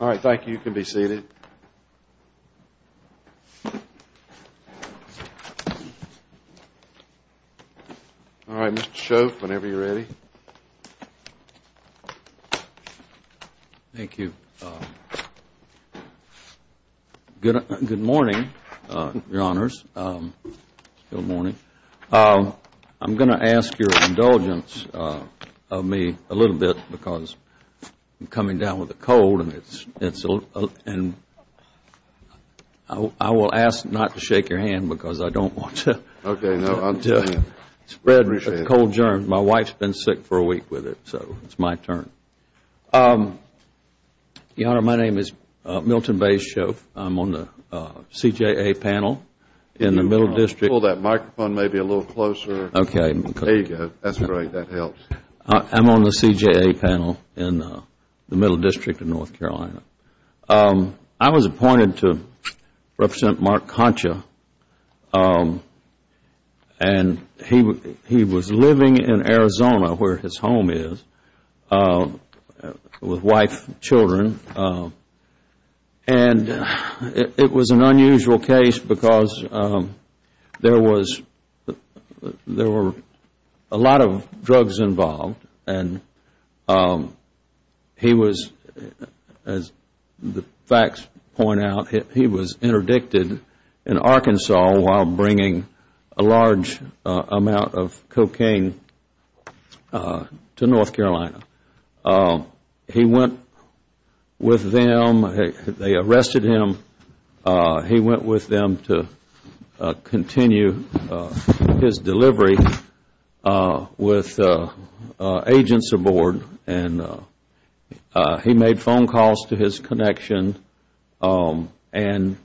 All right, thank you. You can be seated. All right, Mr. Shoaff, whenever you're ready. Thank you. Good morning, Your Honors. Good morning. I'm going to ask your indulgence of me a little bit because I'm coming down with a cold and I will ask not to shake your hand because I don't want to spread the cold germs. My wife's been sick for a week with it, so it's my turn. Your Honor, my name is Milton B. Shoaff. I'm on the CJA panel in the Middle District. Pull that microphone maybe a little closer. Okay. There you go. That's great. That helps. I'm on the CJA panel in the Middle District of North Carolina. I was appointed to Representative Mark Concha and he was living in Arizona where his home is with wife and children. And it was an unusual case because there were a lot of drugs involved and he was, as the facts point out, he was interdicted in Arkansas while bringing a large amount of cocaine to North Carolina. He went with them. They arrested him. He went with them to continue his delivery with agents aboard and he made phone calls to his connection and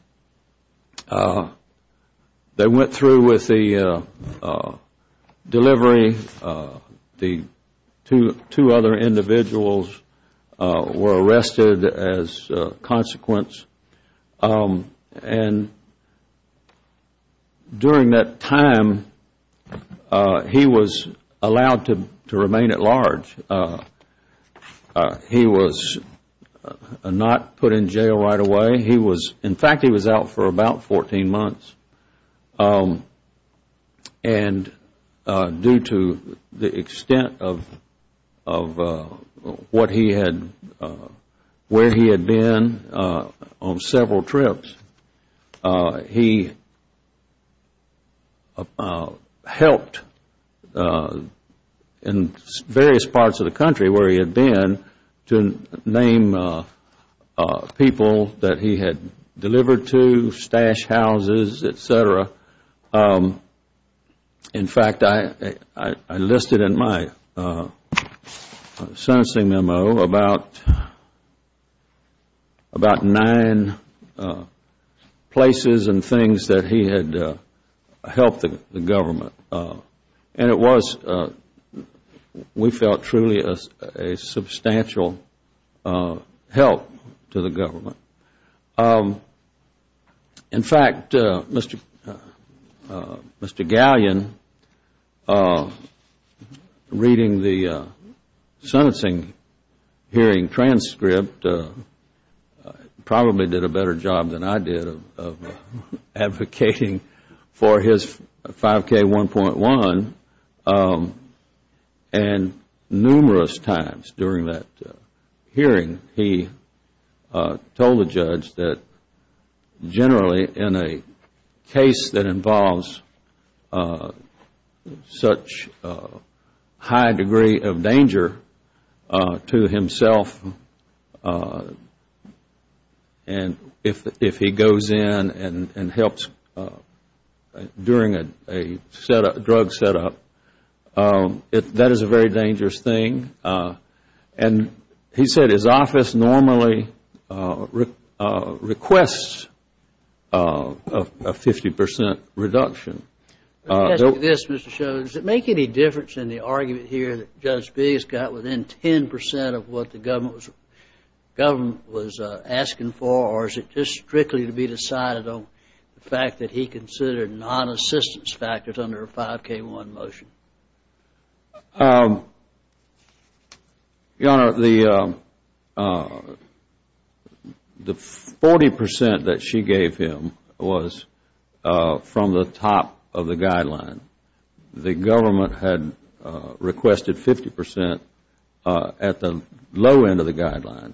they went through with the delivery. The two other individuals were arrested as a consequence. And during that time, he was allowed to remain at large. He was not put in jail right away. In fact, he was out for about 14 months and due to the extent of where he had been on several trips, he helped in various parts of the country where he had been to name people that he had delivered to, stash houses, et cetera. In fact, I listed in my sentencing memo about nine places and things that he had helped the government. And it was, we felt, truly a substantial help to the government. In fact, Mr. Gallion, reading the sentencing hearing transcript, probably did a better job than I did of advocating for his 5K1.1. And numerous times during that hearing, he told the judge that generally in a case that involves such a high degree of danger to himself, and if he goes in and helps during a drug setup, that is a very dangerous thing. And he said his office normally requests a 50 percent reduction. This, Mr. Shull, does it make any difference in the argument here that Judge Biggs got within 10 percent of what the government was asking for, or is it just strictly to be decided on the fact that he considered non-assistance factors under a 5K1 motion? Your Honor, the 40 percent that she gave him was from the top of the guideline. The government had requested 50 percent at the low end of the guideline.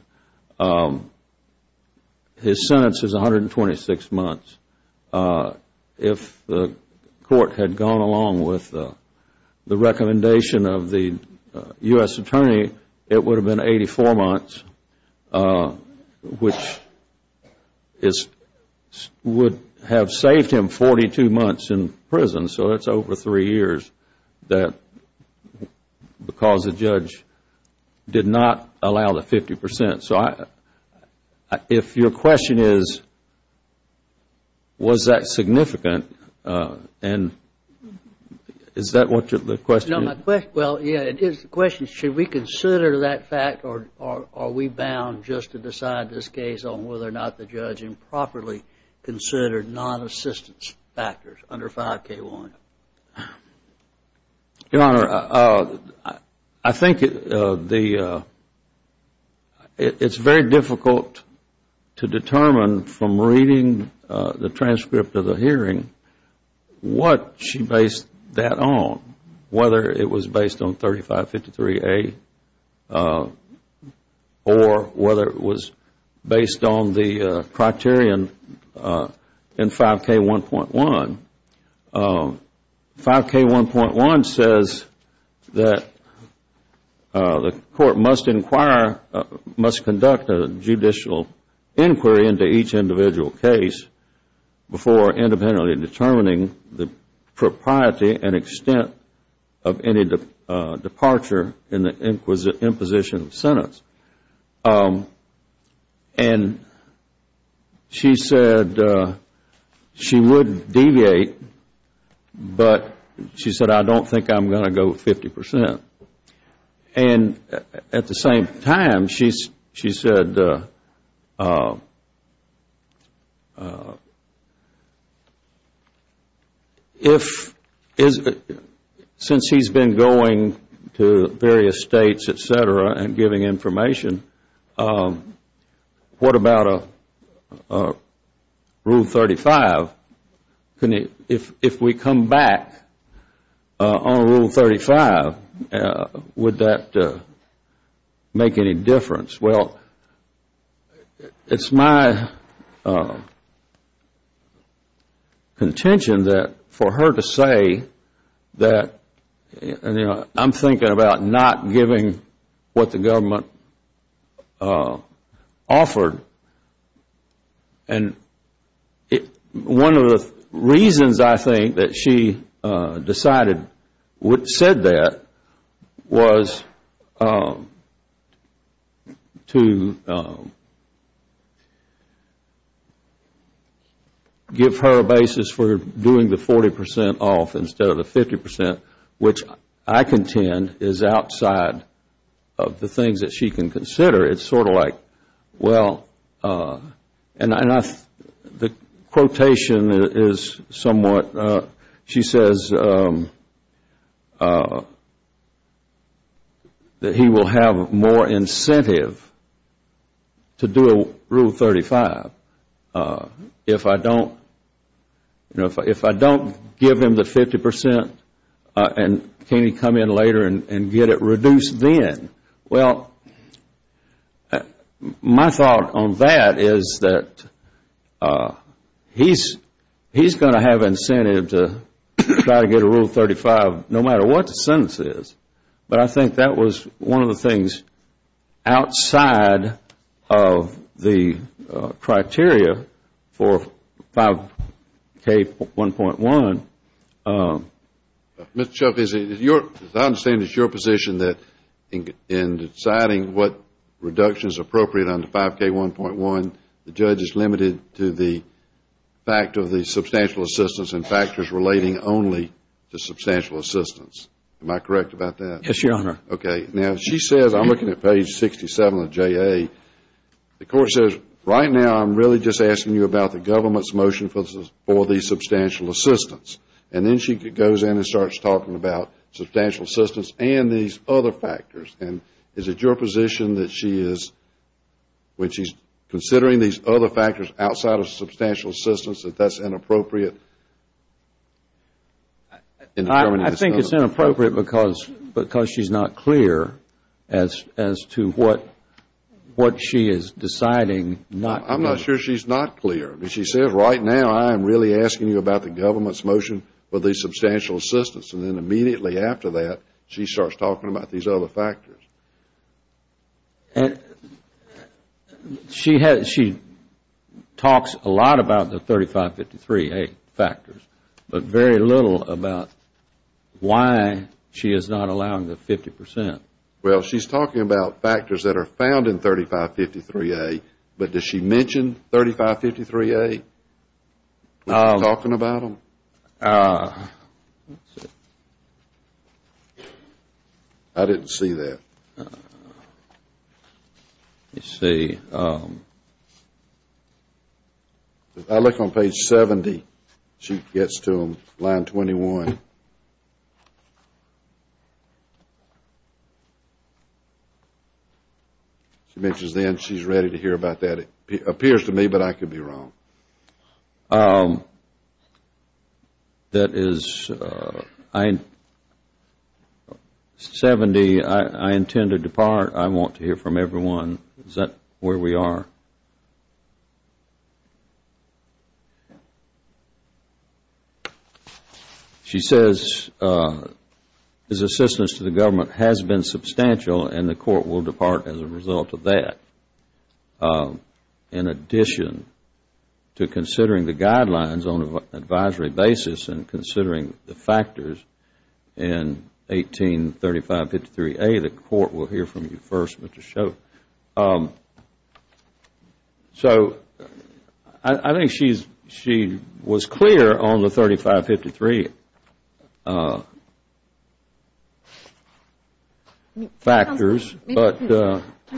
His sentence is 126 months. If the court had gone along with the recommendation of the U.S. attorney, it would have been 84 months, which would have saved him 42 months in prison. So it is over three years because the judge did not allow the 50 percent. If your question is, was that significant, is that what the question is? Well, yes, the question is, should we consider that fact or are we bound just to decide this case based on whether or not the judge improperly considered non-assistance factors under 5K1? Your Honor, I think it is very difficult to determine from reading the transcript of the hearing what she based that on, whether it was based on 3553A or whether it was based on the criterion in 5K1.1. 5K1.1 says that the court must conduct a judicial inquiry into each individual case before independently determining the propriety and extent of any departure in the imposition of sentence. And she said she would deviate, but she said, I don't think I am going to go 50 percent. And at the same time, she said, since he has been going to various states, et cetera, and giving information, what about Rule 35? If we come back on Rule 35, would that make any difference? Well, it is my contention that for her to say that I am thinking about not giving what the government offered, and one of the reasons, I think, that she said that was to give her a basis for doing the 40 percent off instead of the 50 percent, which I contend is outside of the things that she can consider. It is sort of like, well, and the quotation is somewhat, she says that he will have more incentive to do a Rule 35. If I don't give him the 50 percent, can he come in later and get it reduced then? Well, my thought on that is that he is going to have incentive to try to get a Rule 35 no matter what the sentence is. But I think that was one of the things outside of the criteria for 5K1.1. Mr. Chaffee, as I understand it, it is your position that in deciding what reduction is appropriate under 5K1.1, the judge is limited to the fact of the substantial assistance and factors relating only to substantial assistance. Am I correct about that? Yes, Your Honor. Okay. Now, she says, I am looking at page 67 of JA. The court says, right now I am really just asking you about the government's motion for the substantial assistance. And then she goes in and starts talking about substantial assistance and these other factors. And is it your position that she is, when she is considering these other factors outside of substantial assistance, that that is inappropriate? I think it is inappropriate because she is not clear as to what she is deciding. I am not sure she is not clear. She says, right now I am really asking you about the government's motion for the substantial assistance. And then immediately after that, she starts talking about these other factors. And she talks a lot about the 3553A factors, but very little about why she is not allowing the 50 percent. Well, she is talking about factors that are found in 3553A, but does she mention 3553A when she is talking about them? Let's see. I didn't see that. Let me see. I look on page 70. She gets to line 21. She mentions then she is ready to hear about that. It appears to me, but I could be wrong. That is 70. I intend to depart. I want to hear from everyone. Is that where we are? She says his assistance to the government has been substantial and the court will depart as a result of that. In addition to considering the guidelines on an advisory basis and considering the factors in 183553A, the court will hear from you first, Mr. Shove. So I think she was clear on the 3553 factors, but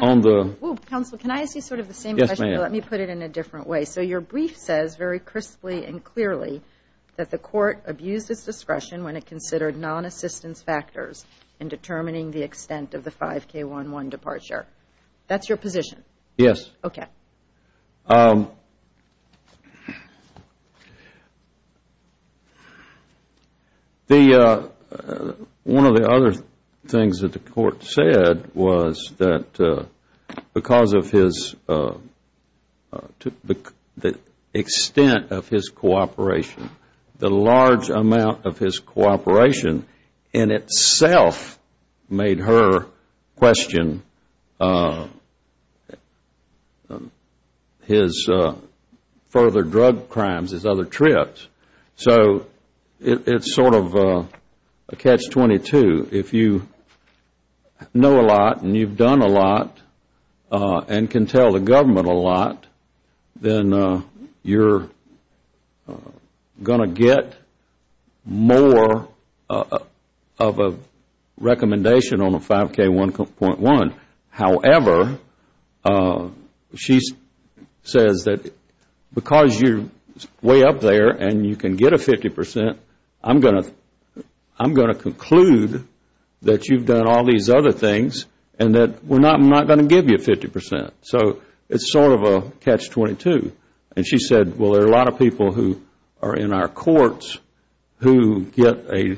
on the Counsel, can I ask you sort of the same question, but let me put it in a different way. So your brief says very crisply and clearly that the court abused its discretion when it considered non-assistance factors in determining the extent of the 5K11 departure. That is your position? Yes. Okay. One of the other things that the court said was that because of the extent of his cooperation, the large amount of his cooperation in itself made her question his further drug crimes, his other trips. So it is sort of a catch-22. If you know a lot and you have done a lot and can tell the government a lot, then you are going to get more of a recommendation on a 5K1.1. However, she says that because you are way up there and you can get a 50 percent, I am going to conclude that you have done all these other things and that we are not going to give you 50 percent. So it is sort of a catch-22. And she said, well, there are a lot of people who are in our courts who get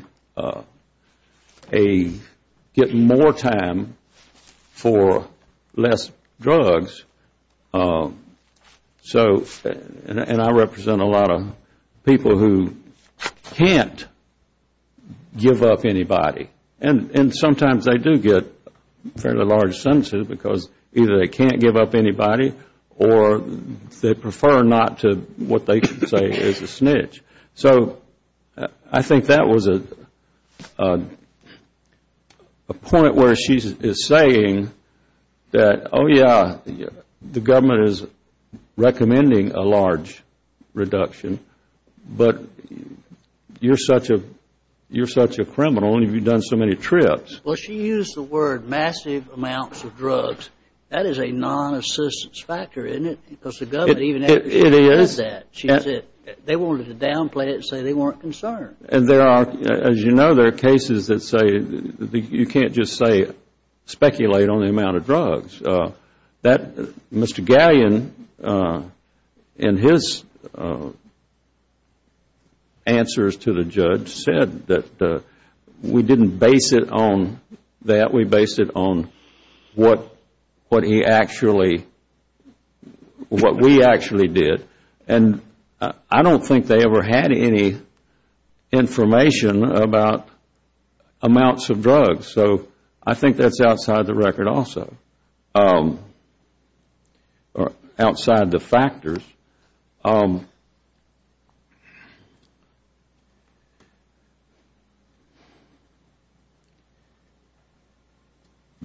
more time for less drugs, and I represent a lot of people who can't give up anybody. And sometimes they do get fairly large sentences because either they can't give up anybody or they prefer not to what they should say is a snitch. So I think that was a point where she is saying that, oh, yeah, the government is recommending a large reduction, but you are such a criminal and you have done so many trips. Well, she used the word massive amounts of drugs. That is a non-assistance factor, isn't it? It is. They wanted to downplay it and say they weren't concerned. As you know, there are cases that say you can't just speculate on the amount of drugs. Mr. Galyen, in his answers to the judge, said that we didn't base it on that. We based it on what we actually did. And I don't think they ever had any information about amounts of drugs. So I think that is outside the record also, or outside the factors.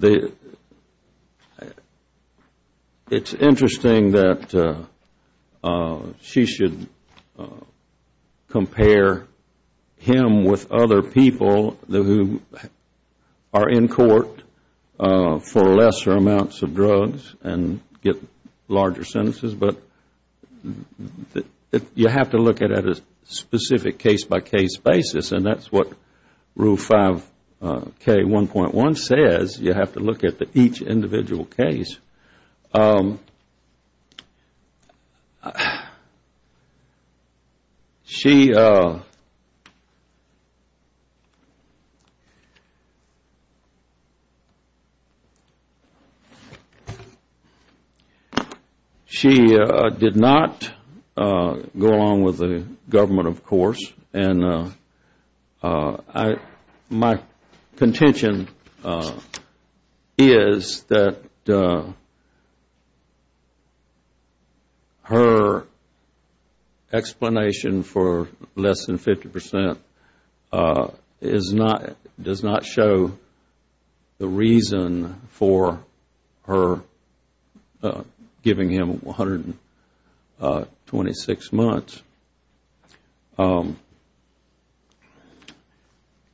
It is interesting that she should compare him with other people who are in court for lesser amounts of drugs and get larger sentences, but you have to look at it at a specific case-by-case basis. And that is what Rule 5K1.1 says. You have to look at each individual case. She did not go along with the government, of course. And my contention is that her explanation for less than 50% does not show the reason for her giving him 126 months.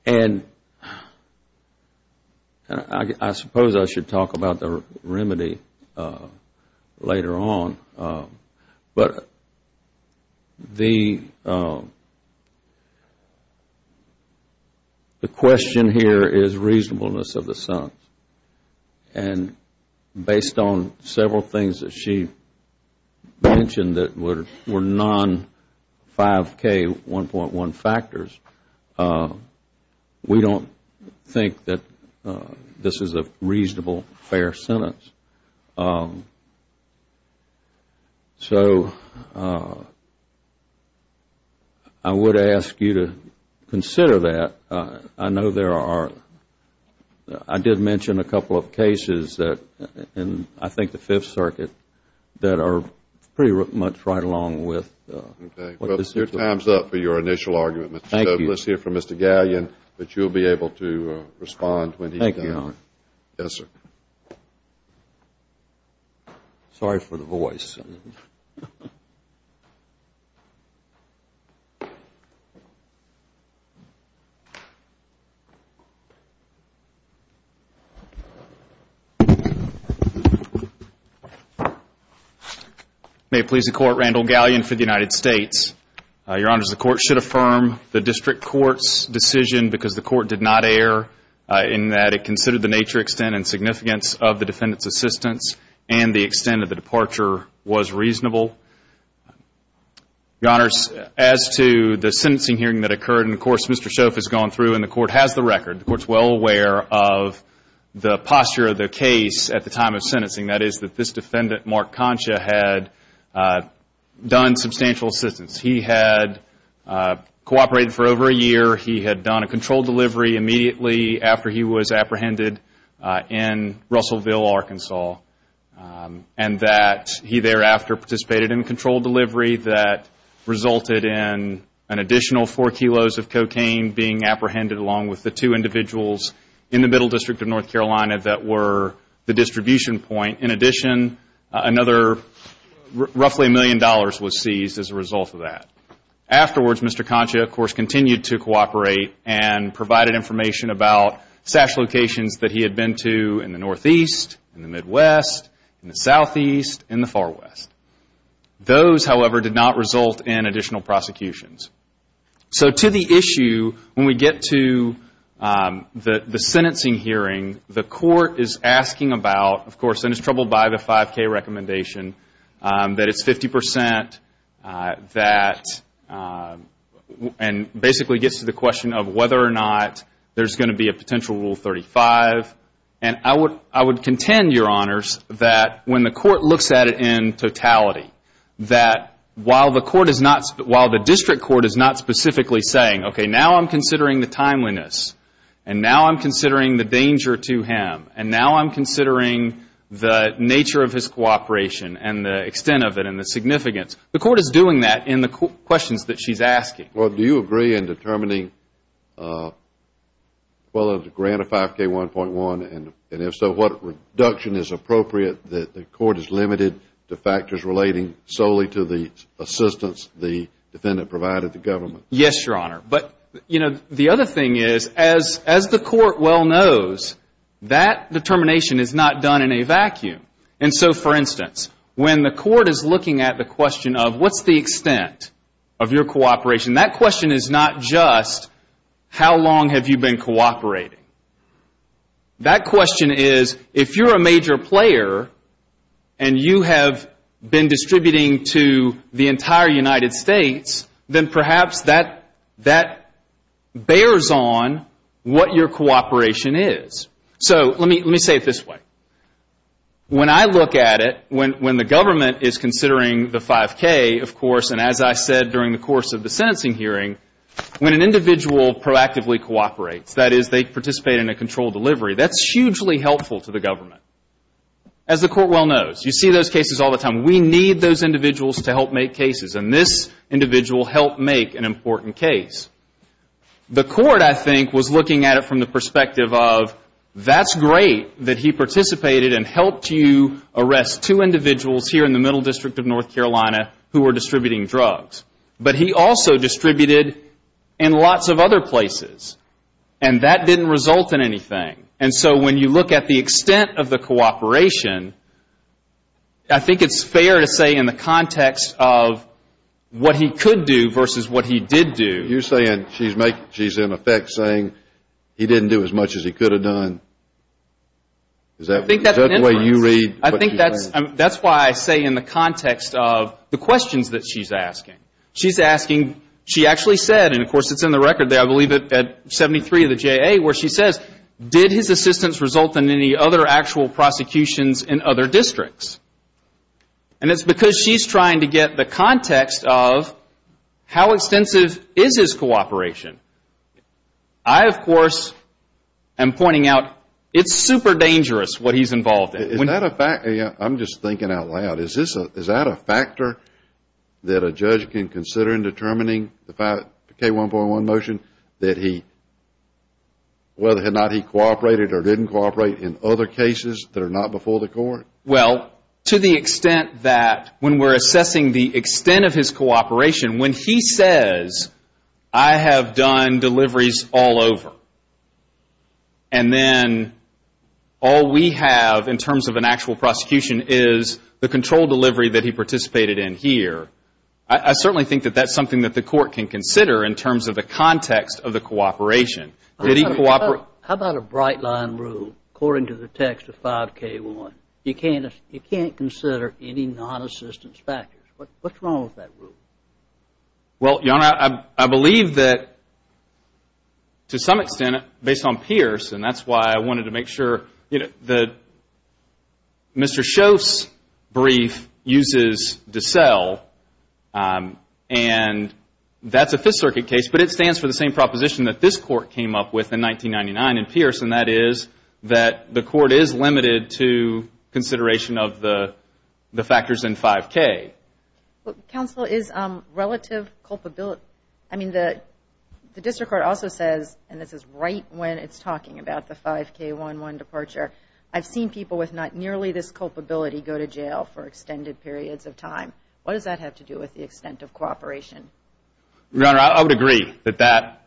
And I suppose I should talk about the remedy later on, but the question here is reasonableness of the sentence. And based on several things that she mentioned that were non-5K1.1 factors, we don't think that this is a reasonable, fair sentence. So I would ask you to consider that. I know there are, I did mention a couple of cases in I think the Fifth Circuit that are pretty much right along with what this is. Okay. Well, your time is up for your initial argument. Thank you. Let's hear from Mr. Gallion, but you will be able to respond when he is done. Thank you, Your Honor. Yes, sir. Sorry for the voice. May it please the Court, Randall Gallion for the United States. Your Honor, the Court should affirm the District Court's decision because the Court did not err in that it considered the nature, extent, and significance of the defendant's assistance and the extent of the departure was reasonable. Your Honors, as to the sentencing hearing that occurred, and of course Mr. Shoff has gone through and the Court has the record, the Court is well aware of the posture of the case at the time of sentencing. That is that this defendant, Mark Concha, had done substantial assistance. He had cooperated for over a year. He had done a controlled delivery immediately after he was apprehended in Russellville, Arkansas, and that he thereafter participated in a controlled delivery that resulted in an additional four kilos of cocaine being apprehended along with the two individuals in the Middle District of North Carolina that were the distribution point. In addition, another roughly a million dollars was seized as a result of that. Afterwards, Mr. Concha, of course, continued to cooperate and provided information about SASH locations that he had been to in the Northeast, in the Midwest, in the Southeast, in the Far West. Those, however, did not result in additional prosecutions. So to the issue, when we get to the sentencing hearing, the Court is asking about, of course, and it's troubled by the 5K recommendation, that it's 50 percent, and basically gets to the question of whether or not there's going to be a potential Rule 35. And I would contend, Your Honors, that when the Court looks at it in totality, that while the District Court is not specifically saying, okay, now I'm considering the timeliness and now I'm considering the danger to him and now I'm considering the nature of his cooperation and the extent of it and the significance, the Court is doing that in the questions that she's asking. Well, do you agree in determining whether to grant a 5K 1.1, and if so, what reduction is appropriate that the Court is limited to factors relating solely to the assistance the defendant provided the government? Yes, Your Honor. But, you know, the other thing is, as the Court well knows, that determination is not done in a vacuum. And so, for instance, when the Court is looking at the question of what's the extent of your cooperation, that question is not just how long have you been cooperating. That question is, if you're a major player and you have been distributing to the entire United States, then perhaps that bears on what your cooperation is. So let me say it this way. When I look at it, when the government is considering the 5K, of course, and as I said during the course of the sentencing hearing, when an individual proactively cooperates, that is, they participate in a controlled delivery, that's hugely helpful to the government. As the Court well knows, you see those cases all the time. We need those individuals to help make cases. And this individual helped make an important case. The Court, I think, was looking at it from the perspective of that's great that he participated and helped you arrest two individuals here in the Middle District of North Carolina who were distributing drugs. But he also distributed in lots of other places. And that didn't result in anything. And so when you look at the extent of the cooperation, I think it's fair to say in the context of what he could do versus what he did do. You're saying she's in effect saying he didn't do as much as he could have done. Is that the way you read what she's saying? I think that's why I say in the context of the questions that she's asking. She's asking, she actually said, and of course it's in the record there, I believe at 73 of the JA where she says, did his assistance result in any other actual prosecutions in other districts? And it's because she's trying to get the context of how extensive is his cooperation. I, of course, am pointing out it's super dangerous what he's involved in. I'm just thinking out loud. Is that a factor that a judge can consider in determining the K-1.1 motion, that whether or not he cooperated or didn't cooperate in other cases that are not before the court? Well, to the extent that when we're assessing the extent of his cooperation, when he says, I have done deliveries all over, and then all we have in terms of an actual prosecution is the control delivery that he participated in here, I certainly think that that's something that the court can consider in terms of the context of the cooperation. How about a bright line rule according to the text of 5K1? You can't consider any non-assistance factors. What's wrong with that rule? Well, Your Honor, I believe that, to some extent, based on Pierce, and that's why I wanted to make sure, Mr. Shoff's brief uses DeSalle, and that's a Fifth Circuit case, but it stands for the same proposition that this court came up with in 1999 in Pierce, and that is that the court is limited to consideration of the factors in 5K. Counsel, is relative culpability, I mean, the district court also says, and this is right when it's talking about the 5K11 departure, I've seen people with not nearly this culpability go to jail for extended periods of time. What does that have to do with the extent of cooperation? Your Honor, I would agree that that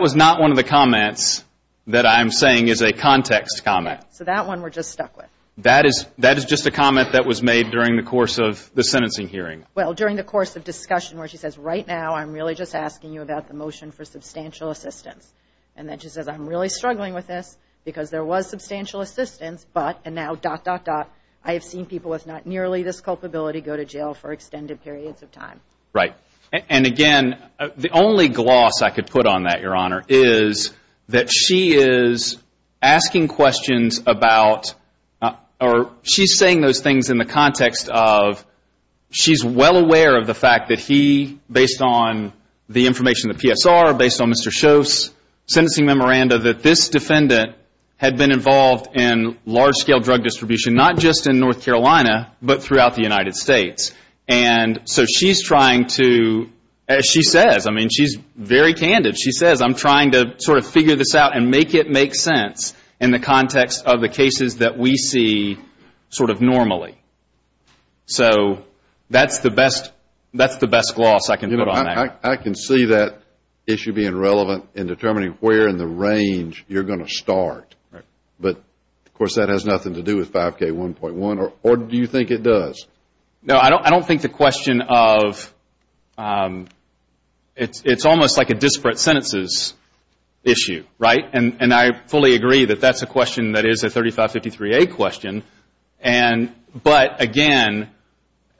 was not one of the comments that I'm saying is a context comment. So that one we're just stuck with. That is just a comment that was made during the course of the sentencing hearing. Well, during the course of discussion where she says, right now I'm really just asking you about the motion for substantial assistance, and then she says, I'm really struggling with this because there was substantial assistance, but, and now dot, dot, dot, I have seen people with not nearly this culpability go to jail for extended periods of time. Right. And, again, the only gloss I could put on that, Your Honor, is that she is asking questions about, or she's saying those things in the context of, she's well aware of the fact that he, based on the information in the PSR, based on Mr. Shoaff's sentencing memoranda, that this defendant had been involved in large-scale drug distribution, not just in North Carolina, but throughout the United States. And so she's trying to, as she says, I mean, she's very candid. She says, I'm trying to sort of figure this out and make it make sense in the context of the cases that we see sort of normally. So that's the best gloss I can put on that. I can see that issue being relevant in determining where in the range you're going to start. Right. But, of course, that has nothing to do with 5K1.1, or do you think it does? No, I don't think the question of, it's almost like a disparate sentences issue, right? And I fully agree that that's a question that is a 3553A question. But, again,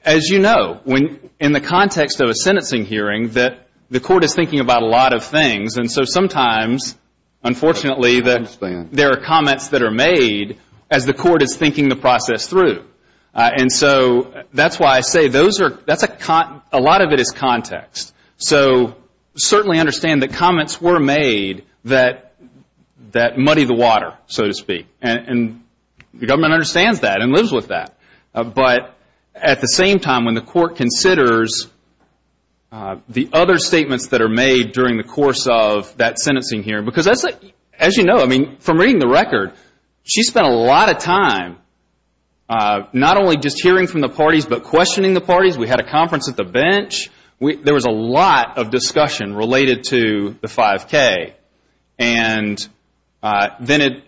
as you know, in the context of a sentencing hearing, the court is thinking about a lot of things. And so sometimes, unfortunately, there are comments that are made as the court is thinking the process through. And so that's why I say those are, that's a, a lot of it is context. So certainly understand that comments were made that muddy the water, so to speak. And the government understands that and lives with that. But at the same time, when the court considers the other statements that are made during the course of that sentencing hearing, because as you know, I mean, from reading the record, she spent a lot of time not only just hearing from the parties, but questioning the parties. We had a conference at the bench. There was a lot of discussion related to the 5K. And then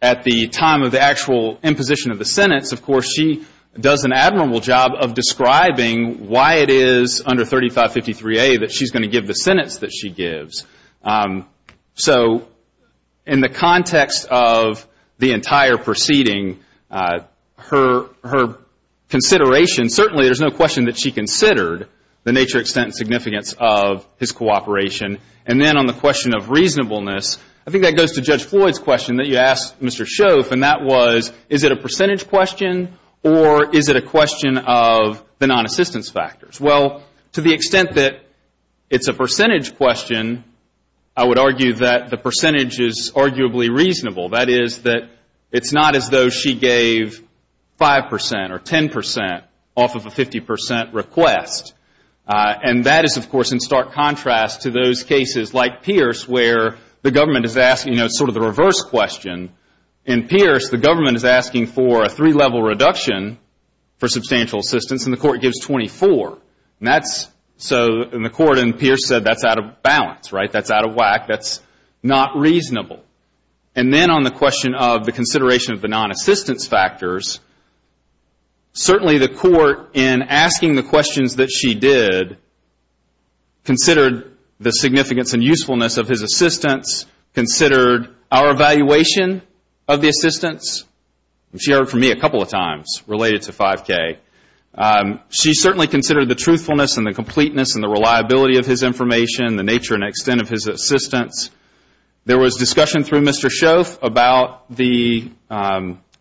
at the time of the actual imposition of the sentence, of course, she does an admirable job of describing why it is under 3553A that she's going to give the sentence that she gives. So in the context of the entire proceeding, her consideration, certainly there's no question that she considered the nature, extent, and significance of his cooperation. And then on the question of reasonableness, I think that goes to Judge Floyd's question that you asked Mr. Schoaf, and that was, is it a percentage question or is it a question of the non-assistance factors? Well, to the extent that it's a percentage question, I would argue that the percentage is arguably reasonable. That is that it's not as though she gave 5% or 10% off of a 50% request. And that is, of course, in stark contrast to those cases like Pierce where the government is asking sort of the reverse question. In Pierce, the government is asking for a three-level reduction for substantial assistance, and the court gives 24. And the court in Pierce said that's out of balance, right? That's out of whack. That's not reasonable. And then on the question of the consideration of the non-assistance factors, certainly the court, in asking the questions that she did, considered the significance and usefulness of his assistance, considered our evaluation of the assistance. She heard from me a couple of times related to 5K. She certainly considered the truthfulness and the completeness and the reliability of his information, the nature and extent of his assistance. There was discussion through Mr. Schoaf about the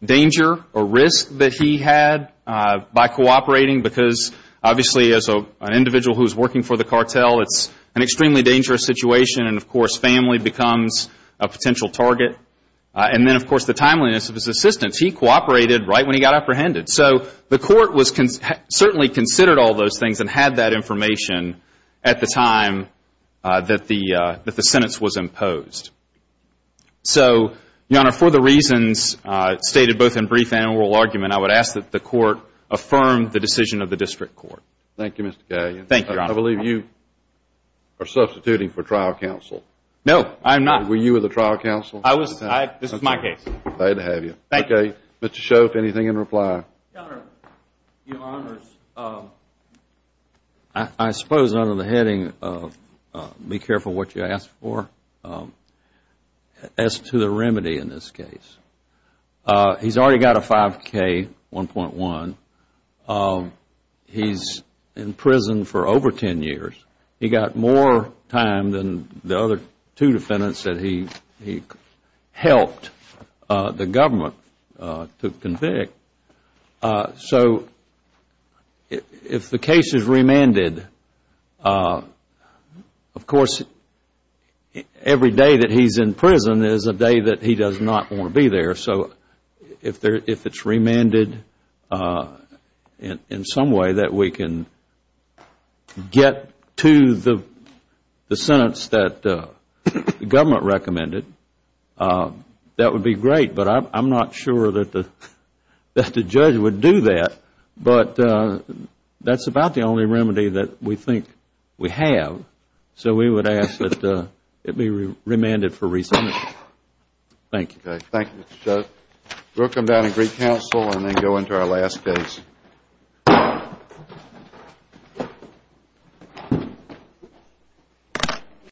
danger or risk that he had by cooperating, because obviously as an individual who is working for the cartel, it's an extremely dangerous situation and, of course, family becomes a potential target. And then, of course, the timeliness of his assistance. He cooperated right when he got apprehended. So the court certainly considered all those things and had that information at the time that the sentence was imposed. So, Your Honor, for the reasons stated both in brief and oral argument, I would ask that the court affirm the decision of the district court. Thank you, Mr. Gaglian. Thank you, Your Honor. I believe you are substituting for trial counsel. No, I'm not. Were you the trial counsel? I was. This is my case. Glad to have you. Thank you. Mr. Schoaf, anything in reply? Governor, Your Honors, I suppose under the heading of be careful what you ask for, as to the remedy in this case, he's already got a 5K, 1.1. He's in prison for over 10 years. He got more time than the other two defendants that he helped the government to convict. So if the case is remanded, of course, every day that he's in prison is a day that he does not want to be there. So if it's remanded in some way that we can get to the sentence that the government recommended, that would be great. But I'm not sure that the judge would do that. But that's about the only remedy that we think we have. So we would ask that it be remanded for re-sentencing. Thank you. Thank you, Mr. Schoaf. We'll come down and recounsel and then go into our last case.